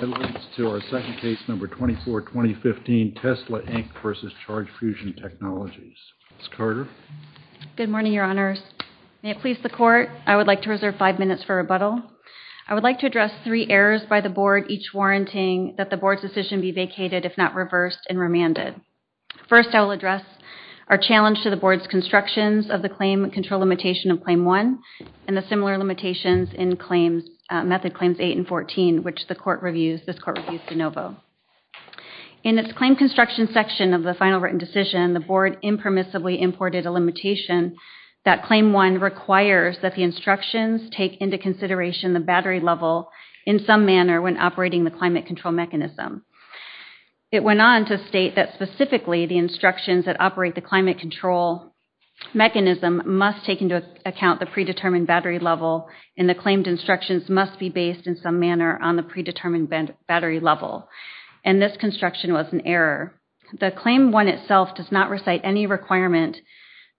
Good morning, Your Honors. May it please the Court, I would like to reserve five minutes for rebuttal. I would like to address three errors by the Board, each warranting that the Board's decision be vacated if not reversed and remanded. First, I will address our challenge to the Board's constructions of the claim control limitation of Claim 1 and the similar limitations in Method Claims 8 and 14, which this Court reviews de novo. In its claim construction section of the final written decision, the Board impermissibly imported a limitation that Claim 1 requires that the instructions take into consideration the battery level in some manner when operating the climate control mechanism. It went on to state that specifically the instructions that operate the climate control mechanism must take into account the predetermined battery level and the claimed instructions must be based in some manner on the predetermined battery level, and this construction was an error. The Claim 1 itself does not recite any requirement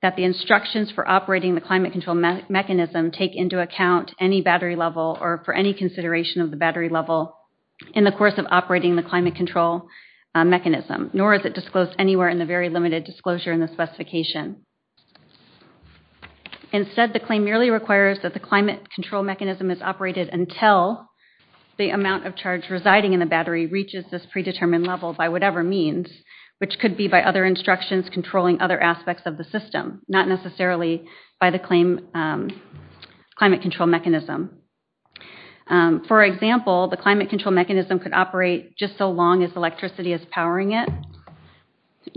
that the instructions for operating the climate control mechanism take into account any battery level or for any consideration of the battery level in the course of operating the climate control mechanism, nor is it disclosed anywhere in the very limited disclosure in the specification. Instead, the claim merely requires that the climate control mechanism is operated until the amount of charge residing in the battery reaches this predetermined level by whatever means, which could be by other instructions controlling other aspects of the system, not necessarily by the claim climate control mechanism. For example, the climate control mechanism could operate just so long as electricity is powering it,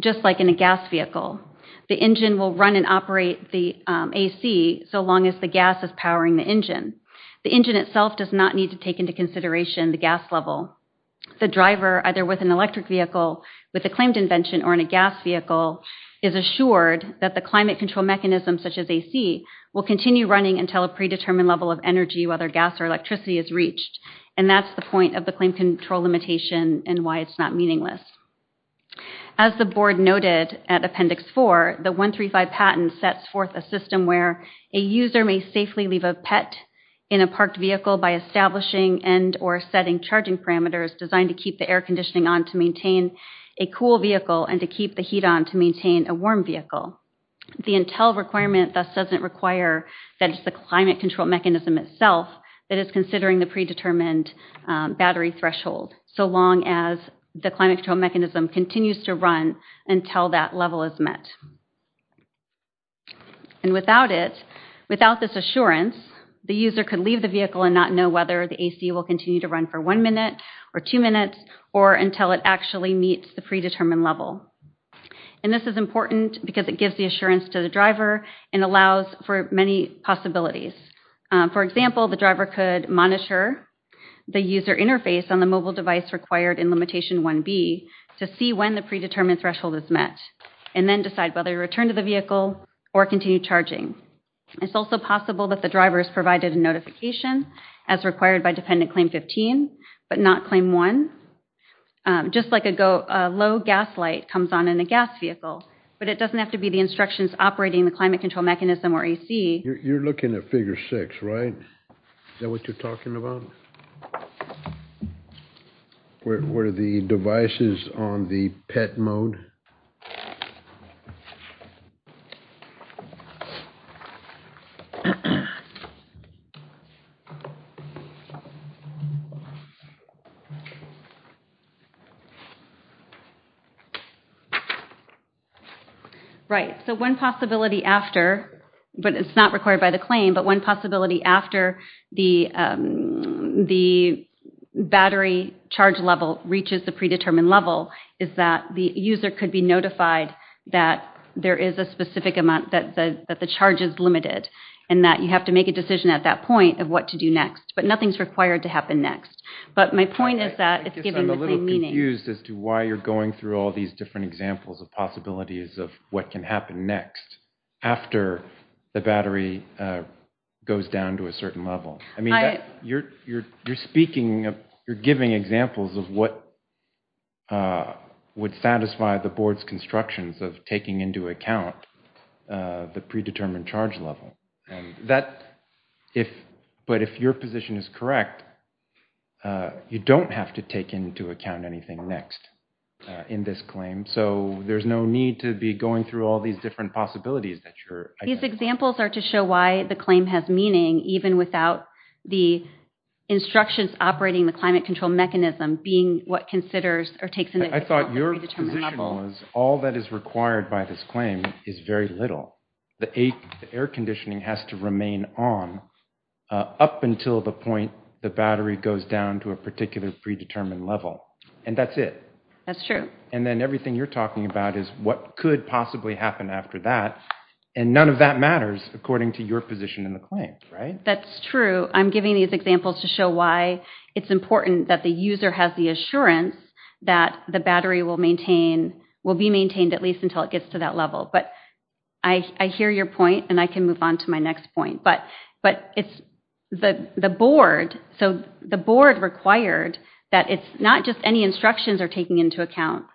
just like in a gas vehicle. The engine will run and operate the AC so long as the gas is powering the engine. The engine itself does not need to take into consideration the gas level. The driver, either with an electric vehicle with a claimed invention or in a gas vehicle, is assured that the climate control mechanism, such as AC, will continue running until a predetermined level of energy, whether gas or electricity, is reached, and that's the point of the claim control limitation and why it's not meaningless. As the board noted at Appendix 4, the 135 patent sets forth a system where a user may safely leave a pet in a parked vehicle by establishing and or setting charging parameters designed to keep the air conditioning on to maintain a cool vehicle and to keep the heat on to maintain a warm vehicle. The Intel requirement thus doesn't require that it's the climate control mechanism itself that is considering the predetermined battery threshold so long as the climate control mechanism continues to run until that level is met. And without it, without this assurance, the user could leave the vehicle and not know whether the AC will continue to run for one minute or two minutes or until it actually meets the predetermined level. And this is important because it gives the assurance to the driver and allows for many possibilities. For example, the driver could monitor the user interface on the mobile device required in Limitation 1B to see when the predetermined threshold is met and then decide whether to return to the vehicle or continue charging. It's also possible that the driver is provided a notification as required by Dependent Claim 15 but not Claim 1, just like a low gas light comes on in a gas vehicle, but it doesn't have to be the instructions operating the climate control mechanism or AC. You're looking at figure six, right? Is that what you're talking about? Where the devices is on the PET mode? Right. So one possibility after, but it's not required by the claim, but one possibility after the battery charge level reaches the predetermined level is that the user could be notified that there is a specific amount that the charge is limited and that you have to make a decision at that point of what to do next. But nothing's required to happen next. But my point is that it's giving the claim meaning. I guess I'm a little confused as to why you're going through all these different examples of possibilities of what can happen next after the battery goes down to a certain level. I mean, you're speaking of, you're giving examples of what would satisfy the board's constructions of taking into account the predetermined charge level. But if your position is correct, you don't have to take into account anything next in this claim. So there's no need to be going through all these different possibilities that you're identifying. These examples are to show why the claim has meaning even without the instructions operating the climate control mechanism being what considers or takes into account the predetermined level. I thought your position was all that is required by this claim is very little. The air conditioning has to remain on up until the point the battery goes down to a particular predetermined level. And that's it. That's true. And then everything you're talking about is what could possibly happen after that. And none of that matters according to your position in the claim, right? That's true. I'm giving these examples to show why it's important that the user has the assurance that the battery will be maintained at least until it gets to that level. But I hear your point and I can move on to my next point. But it's the board. So the board required that it's not just any instructions are taking into account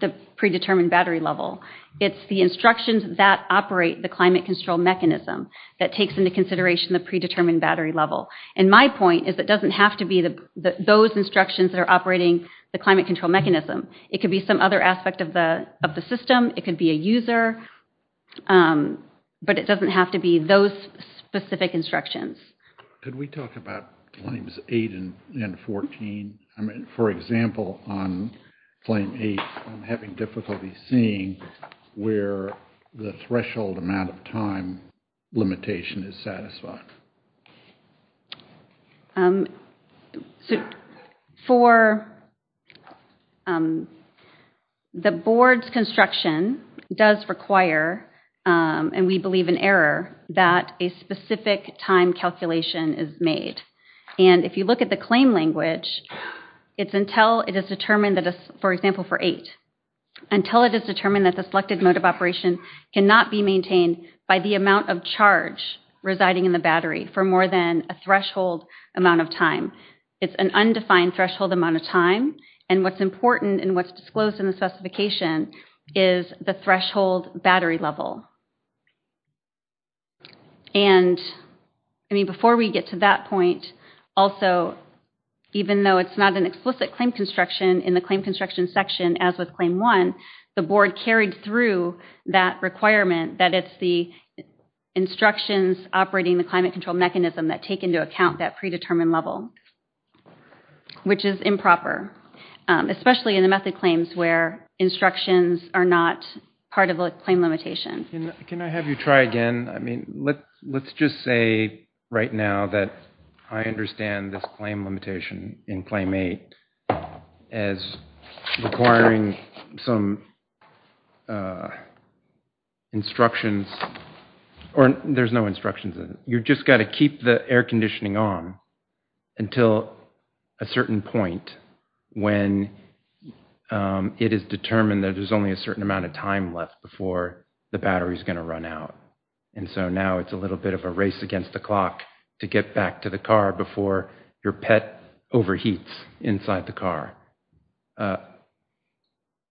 the predetermined battery level. It's the instructions that operate the climate control mechanism that takes into consideration the predetermined battery level. And my point is it doesn't have to be those instructions that are operating the climate control mechanism. It could be some other aspect of the system. It could be a user. But it doesn't have to be those specific instructions. Could we talk about claims 8 and 14? For example, on claim 8, I'm having difficulty seeing where the threshold amount of time limitation is satisfied. For the board's construction does require, and we believe in error, that a specific time calculation is made. And if you look at the claim language, it's until it is determined for example for 8, until it is determined that the selected mode of operation cannot be maintained by the amount of charge residing in the battery for more than a threshold amount of time. It's an undefined threshold amount of time. And what's important and what's disclosed in the specification is the threshold battery level. And before we get to that point, also even though it's not an explicit claim construction in the claim construction section as with claim 1, the board carried through that requirement that it's the instructions operating the climate control mechanism that take into account that predetermined level, which is improper, especially in the method claims where instructions are not part of a claim limitation. Can I have you try again? I mean, let's just say right now that I understand this claim limitation in claim 8 as requiring some instructions, or there's no instructions. You've just got to keep the air conditioning on until a certain point when it is determined that there's only a certain amount of time left before the battery is going to run out. And so now it's a little bit of a race against the clock to get back to the car before your pet overheats inside the car.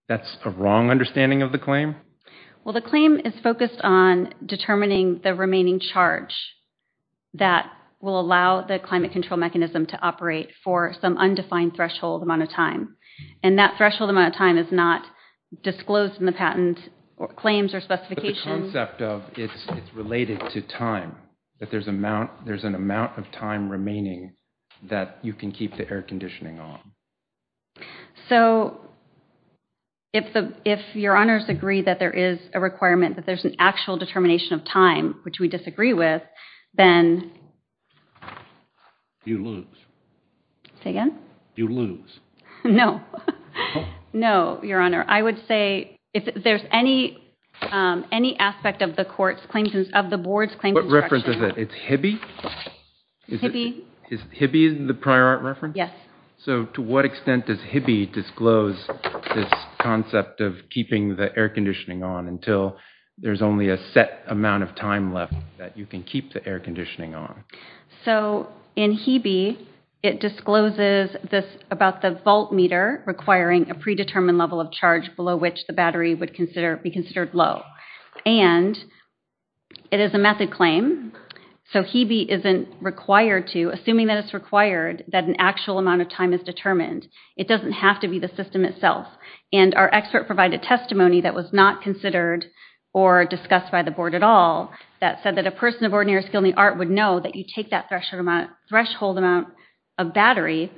That's a wrong understanding of the claim? Well, the claim is focused on determining the remaining charge that will allow the climate control mechanism to operate for some undefined threshold amount of time. And that threshold amount of time is not disclosed in the patent claims or specifications. But the concept of it's related to time, that there's an amount of time remaining that you can keep the air conditioning on. So, if your honors agree that there is a requirement that there's an actual determination of time, which we disagree with, then... You lose. Say again? You lose. No. No, your honor. I would say, if there's any aspect of the board's claims instruction... What reference is it? It's Hibby? Hibby. Hibby is the prior art reference? Yes. So, to what extent does Hibby disclose this concept of keeping the air conditioning on until there's only a set amount of time left that you can keep the air conditioning on? So, in Hibby, it discloses this about the volt meter requiring a predetermined level of charge below which the battery would be considered low. And it is a method claim, so Hibby isn't required to, assuming that it's required, that an actual amount of time is determined. It doesn't have to be the system itself. And our expert provided testimony that was not considered or discussed by the board at all, that said that a person of ordinary skill and the art would know that you take that threshold amount of battery,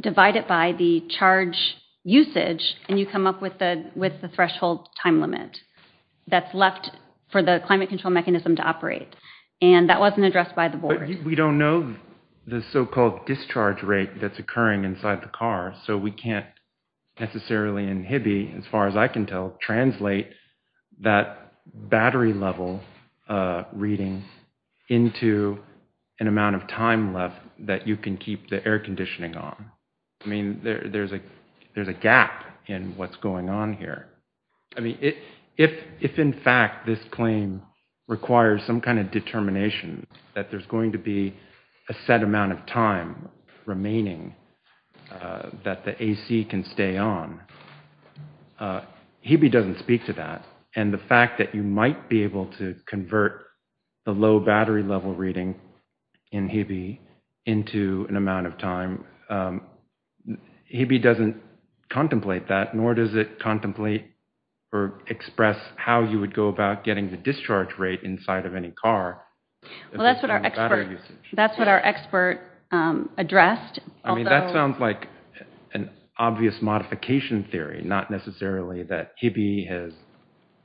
divide it by the charge usage, and you come up with the threshold time limit that's left for the climate control mechanism to operate. And that wasn't addressed by the board. But we don't know the so-called discharge rate that's occurring inside the car, so we can't necessarily, in Hibby, as far as I can tell, translate that battery level reading into an amount of time left that you can keep the air conditioning on. I mean, there's a gap in what's going on here. I mean, if in fact this claim requires some kind of determination that there's going to be a set amount of time remaining that the AC can stay on, Hibby doesn't speak to that. And the fact that you might be able to convert the low battery level reading in Hibby into an amount of time, Hibby doesn't contemplate that, nor does it contemplate or express how you would go about getting the discharge rate inside of any car. Well, that's what our expert addressed. I mean, that sounds like an obvious modification theory, not necessarily that Hibby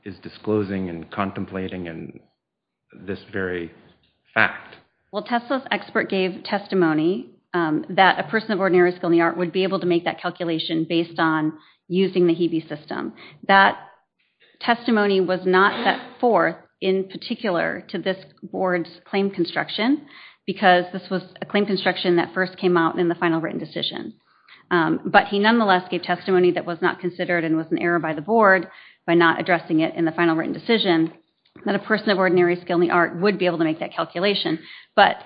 is disclosing and contemplating this very fact. Well, Tesla's expert gave testimony that a person of ordinary skill in the art would be able to make that calculation based on using the Hibby system. That testimony was not set forth in particular to this board's claim construction, because this was a claim construction that first came out in the final written decision. But he nonetheless gave testimony that was not considered and was an error by the board by not addressing it in the final written decision, that a person of ordinary skill in the art would be able to make that calculation. But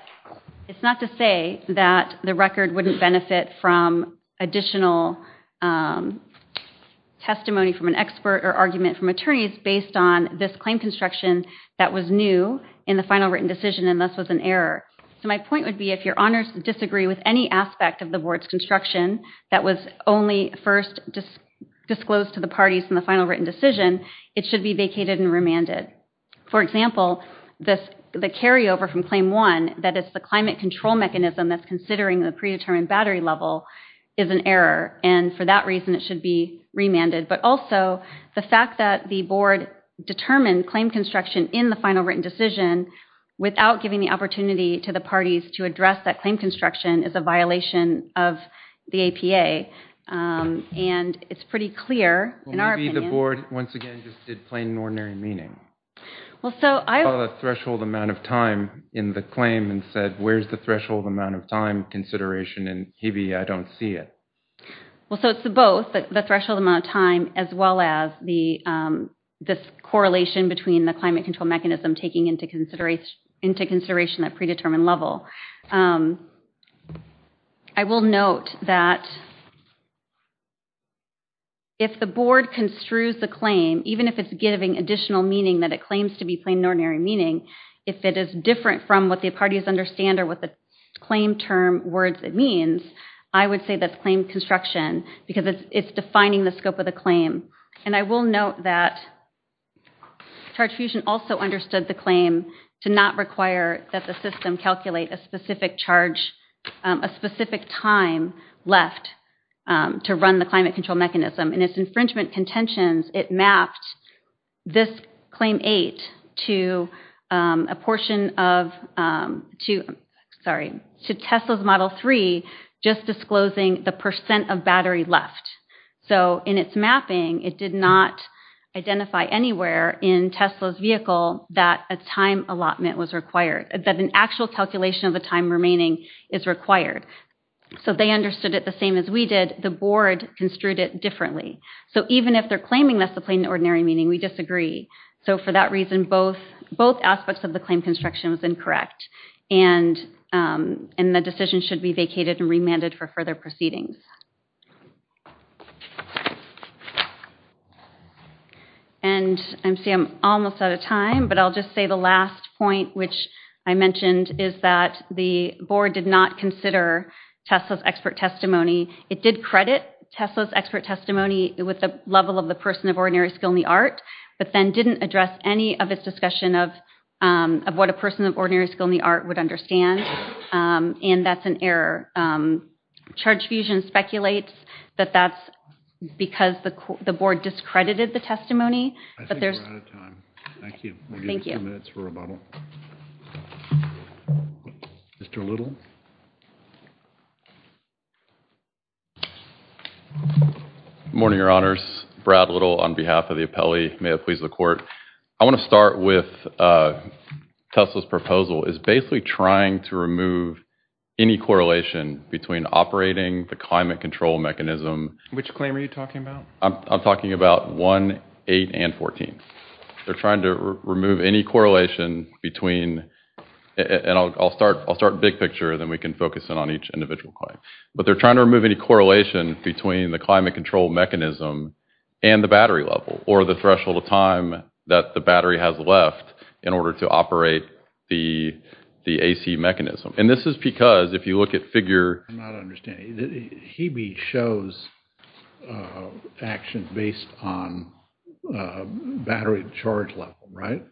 it's not to say that the record wouldn't benefit from additional testimony from an expert on this claim construction that was new in the final written decision and thus was an error. So my point would be if your honors disagree with any aspect of the board's construction that was only first disclosed to the parties in the final written decision, it should be vacated and remanded. For example, the carryover from Claim 1, that is the climate control mechanism that's considering the predetermined battery level, is an error, and for that reason it should be remanded. But also, the fact that the board determined claim construction in the final written decision without giving the opportunity to the parties to address that claim construction is a violation of the APA, and it's pretty clear, in our opinion. Well, maybe the board, once again, just did plain and ordinary meaning. Well, so, I would... You saw the threshold amount of time in the claim and said, where's the threshold amount of time consideration, and maybe I don't see it. Well, so it's both, the threshold amount of time as well as this correlation between the climate control mechanism taking into consideration that predetermined level. I will note that if the board construes the claim, even if it's giving additional meaning that it claims to be plain and ordinary meaning, if it is different from what the parties understand or what the claim term words it means, I would say that's claim construction, because it's defining the scope of the claim. And I will note that Charge Fusion also understood the claim to not require that the system calculate a specific charge, a specific time left to run the climate control mechanism, and its infringement contentions, it mapped this Claim 8 to a portion of, to, sorry, to Tesla's Model 3, just disclosing the percent of battery left. So in its mapping, it did not identify anywhere in Tesla's vehicle that a time allotment was required, that an actual calculation of the time remaining is required. So they understood it the same as we did. The board construed it differently. So even if they're claiming that's the plain and ordinary meaning, we disagree. So for that reason, both aspects of the claim construction was incorrect, and the decision should be vacated and remanded for further proceedings. And I see I'm almost out of time, but I'll just say the last point which I mentioned is that the board did not consider Tesla's expert testimony. It did credit Tesla's expert testimony with the level of the person of ordinary skill in the art, but then didn't address any of its discussion of what a person of ordinary skill in the art would understand, and that's an error. Charge Fusion speculates that that's because the board discredited the testimony, but there's I think we're out of time. Thank you. Thank you. We'll give you a few minutes for rebuttal. Mr. Little? Good morning, Your Honors. Brad Little on behalf of the appellee. May it please the court. I want to start with Tesla's proposal is basically trying to remove any correlation between operating the climate control mechanism. Which claim are you talking about? I'm talking about 1, 8, and 14. They're trying to remove any correlation between, and I'll start big picture, then we can focus in on each individual claim, but they're trying to remove any correlation between the climate control mechanism and the battery level, or the threshold of time that the battery has left in order to operate the AC mechanism, and this is because if you look at figure I'm not understanding. Hibby shows action based on battery charge level, right?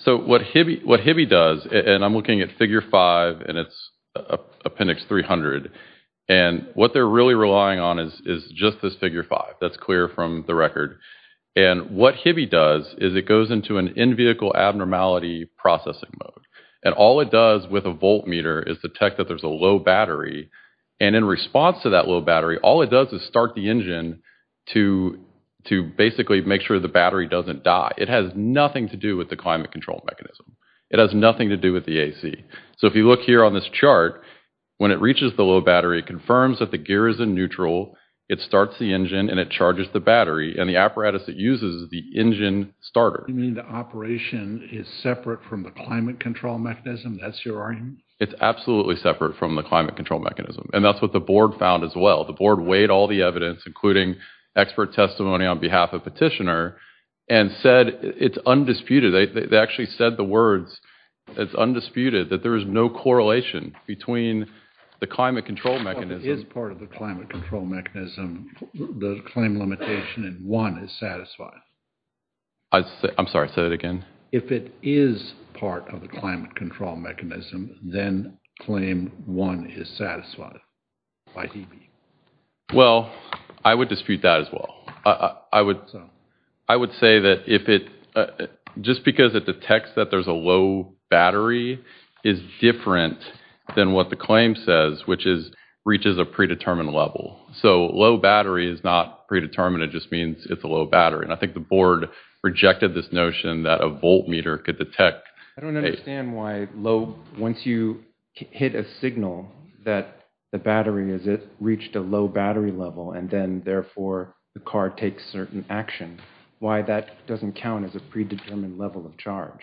So what Hibby does, and I'm looking at figure 5, and it's appendix 300, and what they're really relying on is just this figure 5. That's clear from the record. And what Hibby does is it goes into an in-vehicle abnormality processing mode, and all it does with a voltmeter is detect that there's a low battery, and in response to that low battery, all it does is start the engine to basically make sure the battery doesn't die. It has nothing to do with the climate control mechanism. It has nothing to do with the AC. So if you look here on this chart, when it reaches the low battery, it confirms that the gear is in neutral, it starts the engine, and it charges the battery, and the apparatus it uses is the engine starter. You mean the operation is separate from the climate control mechanism? That's your argument? It's absolutely separate from the climate control mechanism, and that's what the board found as well. The board weighed all the evidence, including expert testimony on behalf of Petitioner, and said it's undisputed, they actually said the words, it's undisputed that there is no correlation between the climate control mechanism... If it is part of the climate control mechanism, the claim limitation in one is satisfied. I'm sorry, say that again? If it is part of the climate control mechanism, then claim one is satisfied by DB. Well, I would dispute that as well. I would say that if it, just because it detects that there's a low battery is different than what the claim says, which is reaches a predetermined level. So low battery is not predetermined, it just means it's a low battery, and I think the board rejected this notion that a voltmeter could detect... I don't understand why low, once you hit a signal that the battery has reached a low battery level, and then therefore the car takes certain action. Why that doesn't count as a predetermined level of charge?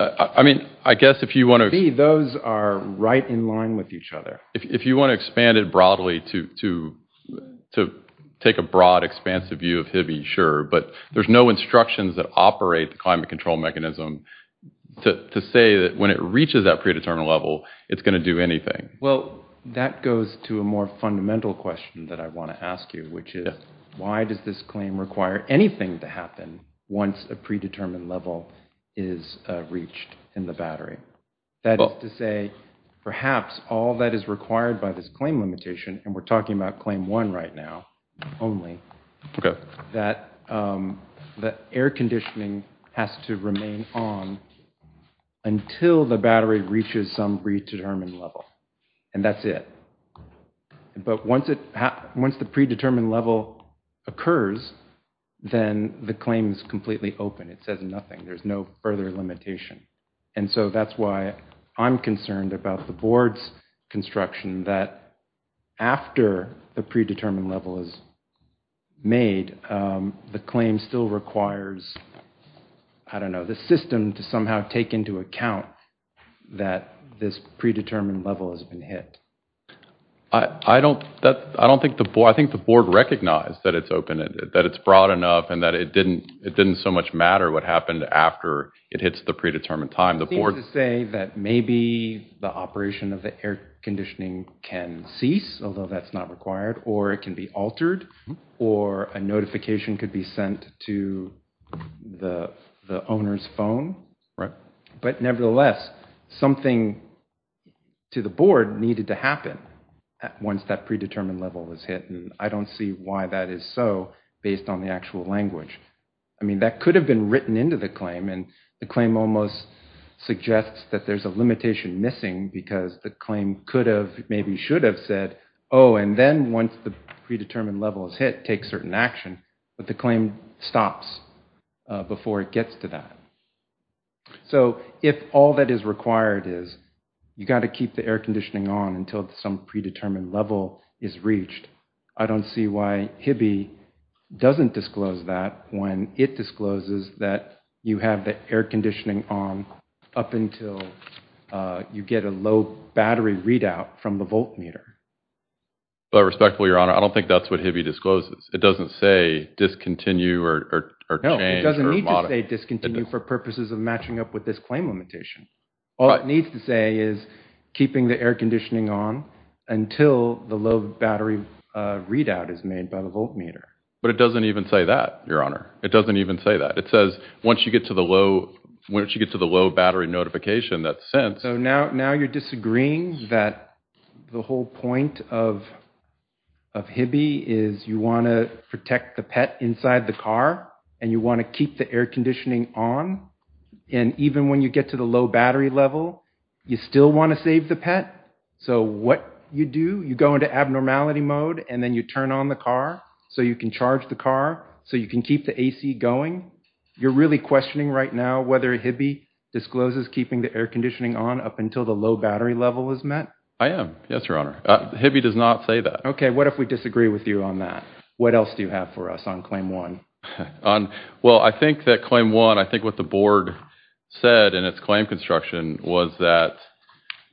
I mean, I guess if you want to... See, those are right in line with each other. If you want to expand it broadly to take a broad, expansive view of Hibby, sure, but there's no instructions that operate the climate control mechanism to say that when it reaches that predetermined level, it's going to do anything. Well, that goes to a more fundamental question that I want to ask you, which is, why does this claim require anything to happen once a predetermined level is reached in the battery? That is to say, perhaps all that is required by this claim limitation, and we're talking about Claim 1 right now only, that the air conditioning has to remain on until the battery reaches some predetermined level, and that's it. But once the predetermined level occurs, then the claim is completely open. It says nothing. There's no further limitation. And so that's why I'm concerned about the board's construction, that after the predetermined level is made, the claim still requires, I don't know, the system to somehow take into account that this predetermined level has been hit. I don't think the board... I think the board recognized that it's open, that it's broad enough, and that it didn't so much matter what happened after it hits the predetermined time. The board... It seems to say that maybe the operation of the air conditioning can cease, although that's not required, or it can be altered, or a notification could be sent to the owner's phone. But nevertheless, something to the board needed to happen once that predetermined level was hit, and I don't see why that is so based on the actual language. I mean, that could have been written into the claim, and the claim almost suggests that there's a limitation missing because the claim could have, maybe should have said, oh, and then once the predetermined level is hit, take certain action, but the claim stops before it gets to that. So if all that is required is you got to keep the air conditioning on until some predetermined level is reached, I don't see why HIBBY doesn't disclose that when it discloses that you have the air conditioning on up until you get a low battery readout from the voltmeter. Well, respectfully, Your Honor, I don't think that's what HIBBY discloses. It doesn't say discontinue or change or modify. No, it doesn't need to say discontinue for purposes of matching up with this claim limitation. All it needs to say is keeping the air conditioning on until the low battery readout is made by the voltmeter. But it doesn't even say that, Your Honor. It doesn't even say that. It says once you get to the low battery notification, that's sense. Now you're disagreeing that the whole point of HIBBY is you want to protect the pet inside the car, and you want to keep the air conditioning on, and even when you get to the low battery level, you still want to save the pet. So what you do, you go into abnormality mode, and then you turn on the car so you can charge the car, so you can keep the AC going. You're really questioning right now whether HIBBY discloses keeping the air conditioning on up until the low battery level is met? I am, yes, Your Honor. HIBBY does not say that. Okay, what if we disagree with you on that? What else do you have for us on Claim 1? Well, I think that Claim 1, I think what the board said in its claim construction was that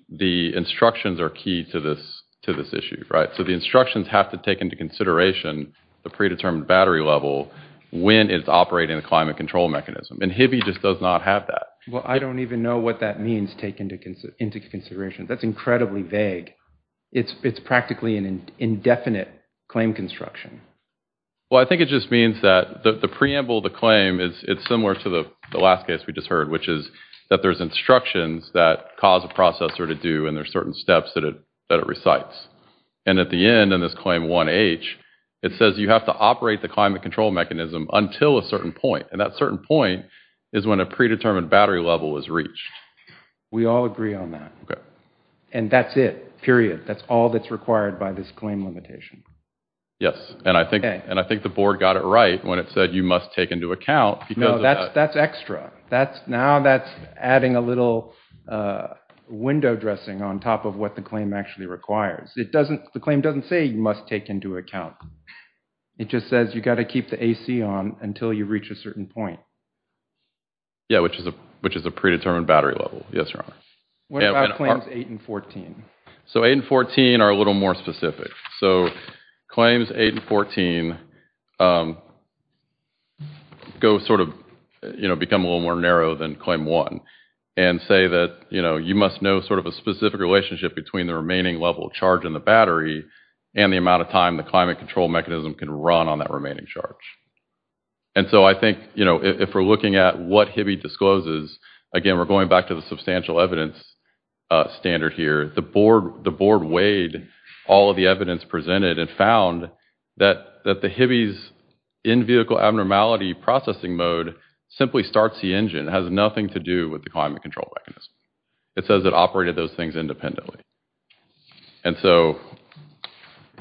the instructions are key to this issue, right? So the instructions have to take into consideration the predetermined battery level when it's operating the climate control mechanism. And HIBBY just does not have that. Well, I don't even know what that means, take into consideration. That's incredibly vague. It's practically an indefinite claim construction. Well, I think it just means that the preamble of the claim is similar to the last case we just heard, which is that there's instructions that cause a processor to do and there's certain steps that it recites. And at the end in this Claim 1H, it says you have to operate the climate control mechanism until a certain point, and that certain point is when a predetermined battery level is reached. We all agree on that. And that's it. Period. That's all that's required by this claim limitation. Yes. And I think the board got it right when it said you must take into account. No, that's extra. Now that's adding a little window dressing on top of what the claim actually requires. The claim doesn't say you must take into account. It just says you've got to keep the AC on until you reach a certain point. Yeah, which is a predetermined battery level. Yes, Your Honor. What about claims 8 and 14? So 8 and 14 are a little more specific. So claims 8 and 14 go sort of, you know, become a little more narrow than Claim 1 and say that, you know, you must know sort of a specific relationship between the remaining level of charge in the battery and the amount of time the climate control mechanism can run on that remaining charge. And so I think, you know, if we're looking at what Hibby discloses, again, we're going back to the substantial evidence standard here. The board weighed all of the evidence presented and found that the Hibby's in-vehicle abnormality processing mode simply starts the engine. It has nothing to do with the climate control mechanism. It says it operated those things independently. And so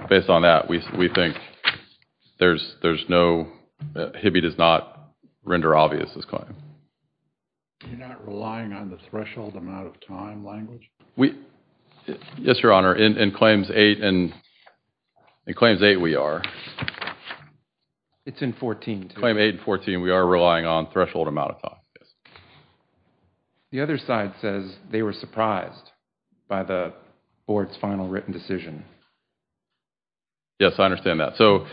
based on that, we think there's no—Hibby does not render obvious this claim. You're not relying on the threshold amount of time language? Yes, Your Honor, in Claims 8 we are. It's in 14, too. Claim 8 and 14, we are relying on threshold amount of time, yes. The other side says they were surprised by the board's final written decision. Yes, I understand that. So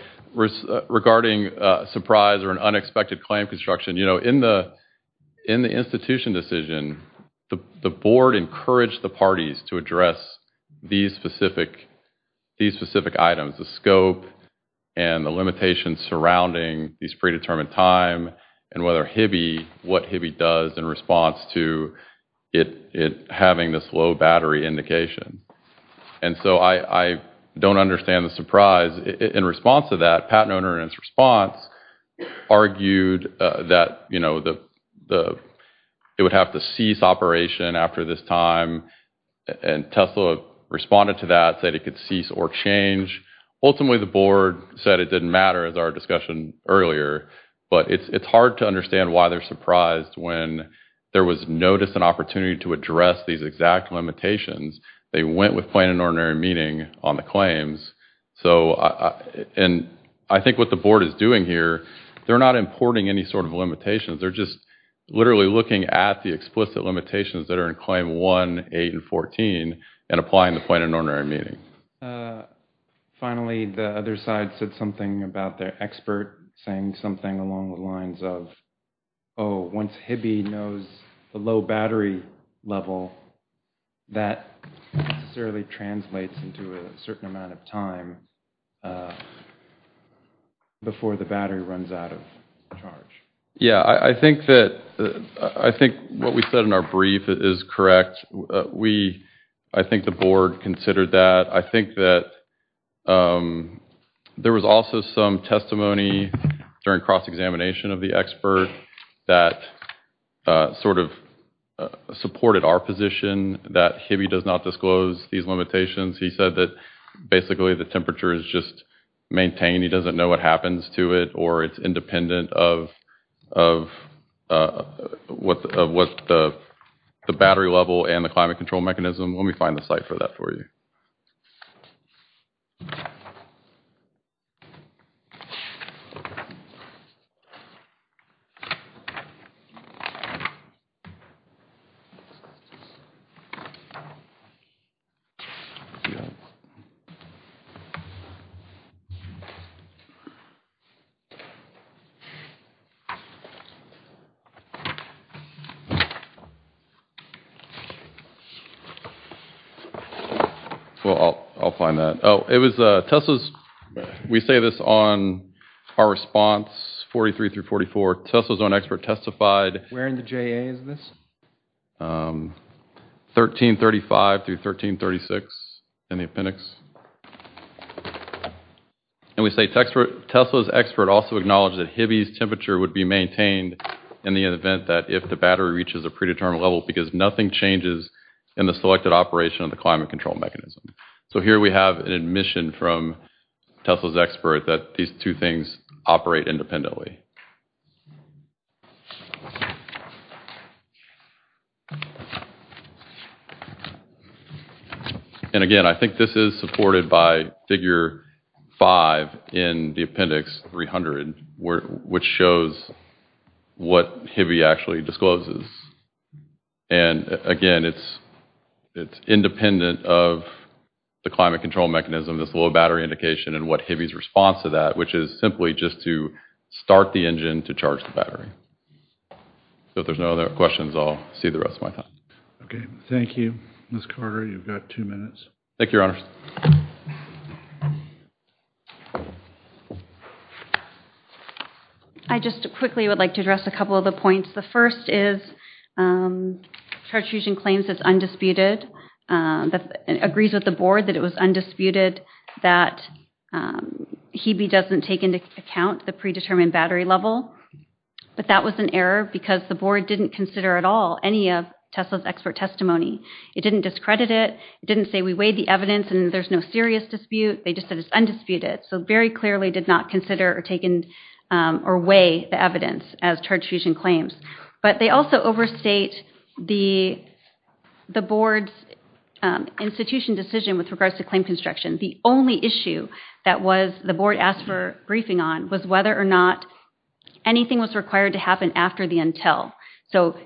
regarding surprise or an unexpected claim construction, you know, in the institution decision, the board encouraged the parties to address these specific items, the scope and the limitations surrounding these predetermined time and whether Hibby—what Hibby does in response to it having this low battery indication. And so I don't understand the surprise. In response to that, Pat Noehner in his response argued that, you know, it would have to cease operation after this time, and Tesla responded to that, said it could cease or change. Ultimately, the board said it didn't matter, as our discussion earlier, but it's hard to understand why they're surprised when there was notice and opportunity to address these exact limitations. They went with Plain and Ordinary Meeting on the claims. So, and I think what the board is doing here, they're not importing any sort of limitations. They're just literally looking at the explicit limitations that are in Claim 1, 8, and 14 and applying the Plain and Ordinary Meeting. Finally, the other side said something about their expert saying something along the lines of, oh, once Hibby knows the low battery level, that necessarily translates into a certain amount of time before the battery runs out of charge. Yeah, I think that, I think what we said in our brief is correct. We, I think the board considered that. I think that there was also some testimony during cross-examination of the expert that sort of supported our position that Hibby does not disclose these limitations. He said that basically the temperature is just maintained. He doesn't know what happens to it or it's independent of what the battery level and the climate control mechanism. Let me find the site for that for you. Well, I'll find that. Oh, it was Tesla's, we say this on our response, 43 through 44, Tesla's own expert testified Where in the JA is this? 1335 through 1336 in the appendix. And we say Tesla's expert also acknowledged that Hibby's temperature would be maintained in the event that if the battery reaches a predetermined level because nothing changes in the selected operation of the climate control mechanism. So here we have an admission from Tesla's expert that these two things operate independently. And again, I think this is supported by figure five in the appendix 300, which shows what Hibby actually discloses. And again, it's independent of the climate control mechanism, this low battery indication and what Hibby's response to that, which is simply just to start the engine to charge the battery. So if there's no other questions, I'll see the rest of my time. Okay. Thank you. Ms. Carter, you've got two minutes. Thank you, Your Honor. I just quickly would like to address a couple of the points. The first is charge fusion claims is undisputed, agrees with the board that it was undisputed that Hibby doesn't take into account the predetermined battery level. But that was an error because the board didn't consider at all any of Tesla's expert testimony. It didn't discredit it. It didn't say we weighed the evidence and there's no serious dispute. They just said it's undisputed. So very clearly did not consider or take in or weigh the evidence as charge fusion claims. But they also overstate the board's institution decision with regards to claim construction. The only issue that the board asked for briefing on was whether or not anything was required to happen after the until. So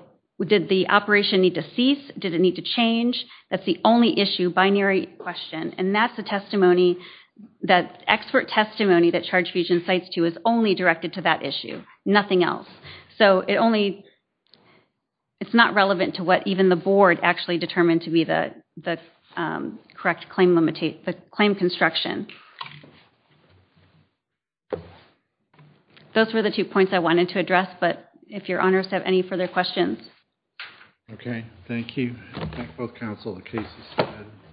did the operation need to cease? Did it need to change? That's the only issue, binary question. And that's the testimony, that expert testimony that charge fusion cites to is only directed to that issue, nothing else. So it's not relevant to what even the board actually determined to be the correct claim construction. Those were the two points I wanted to address. But if your honors have any further questions. Okay. Thank you. Thank both counsel. The case is submitted.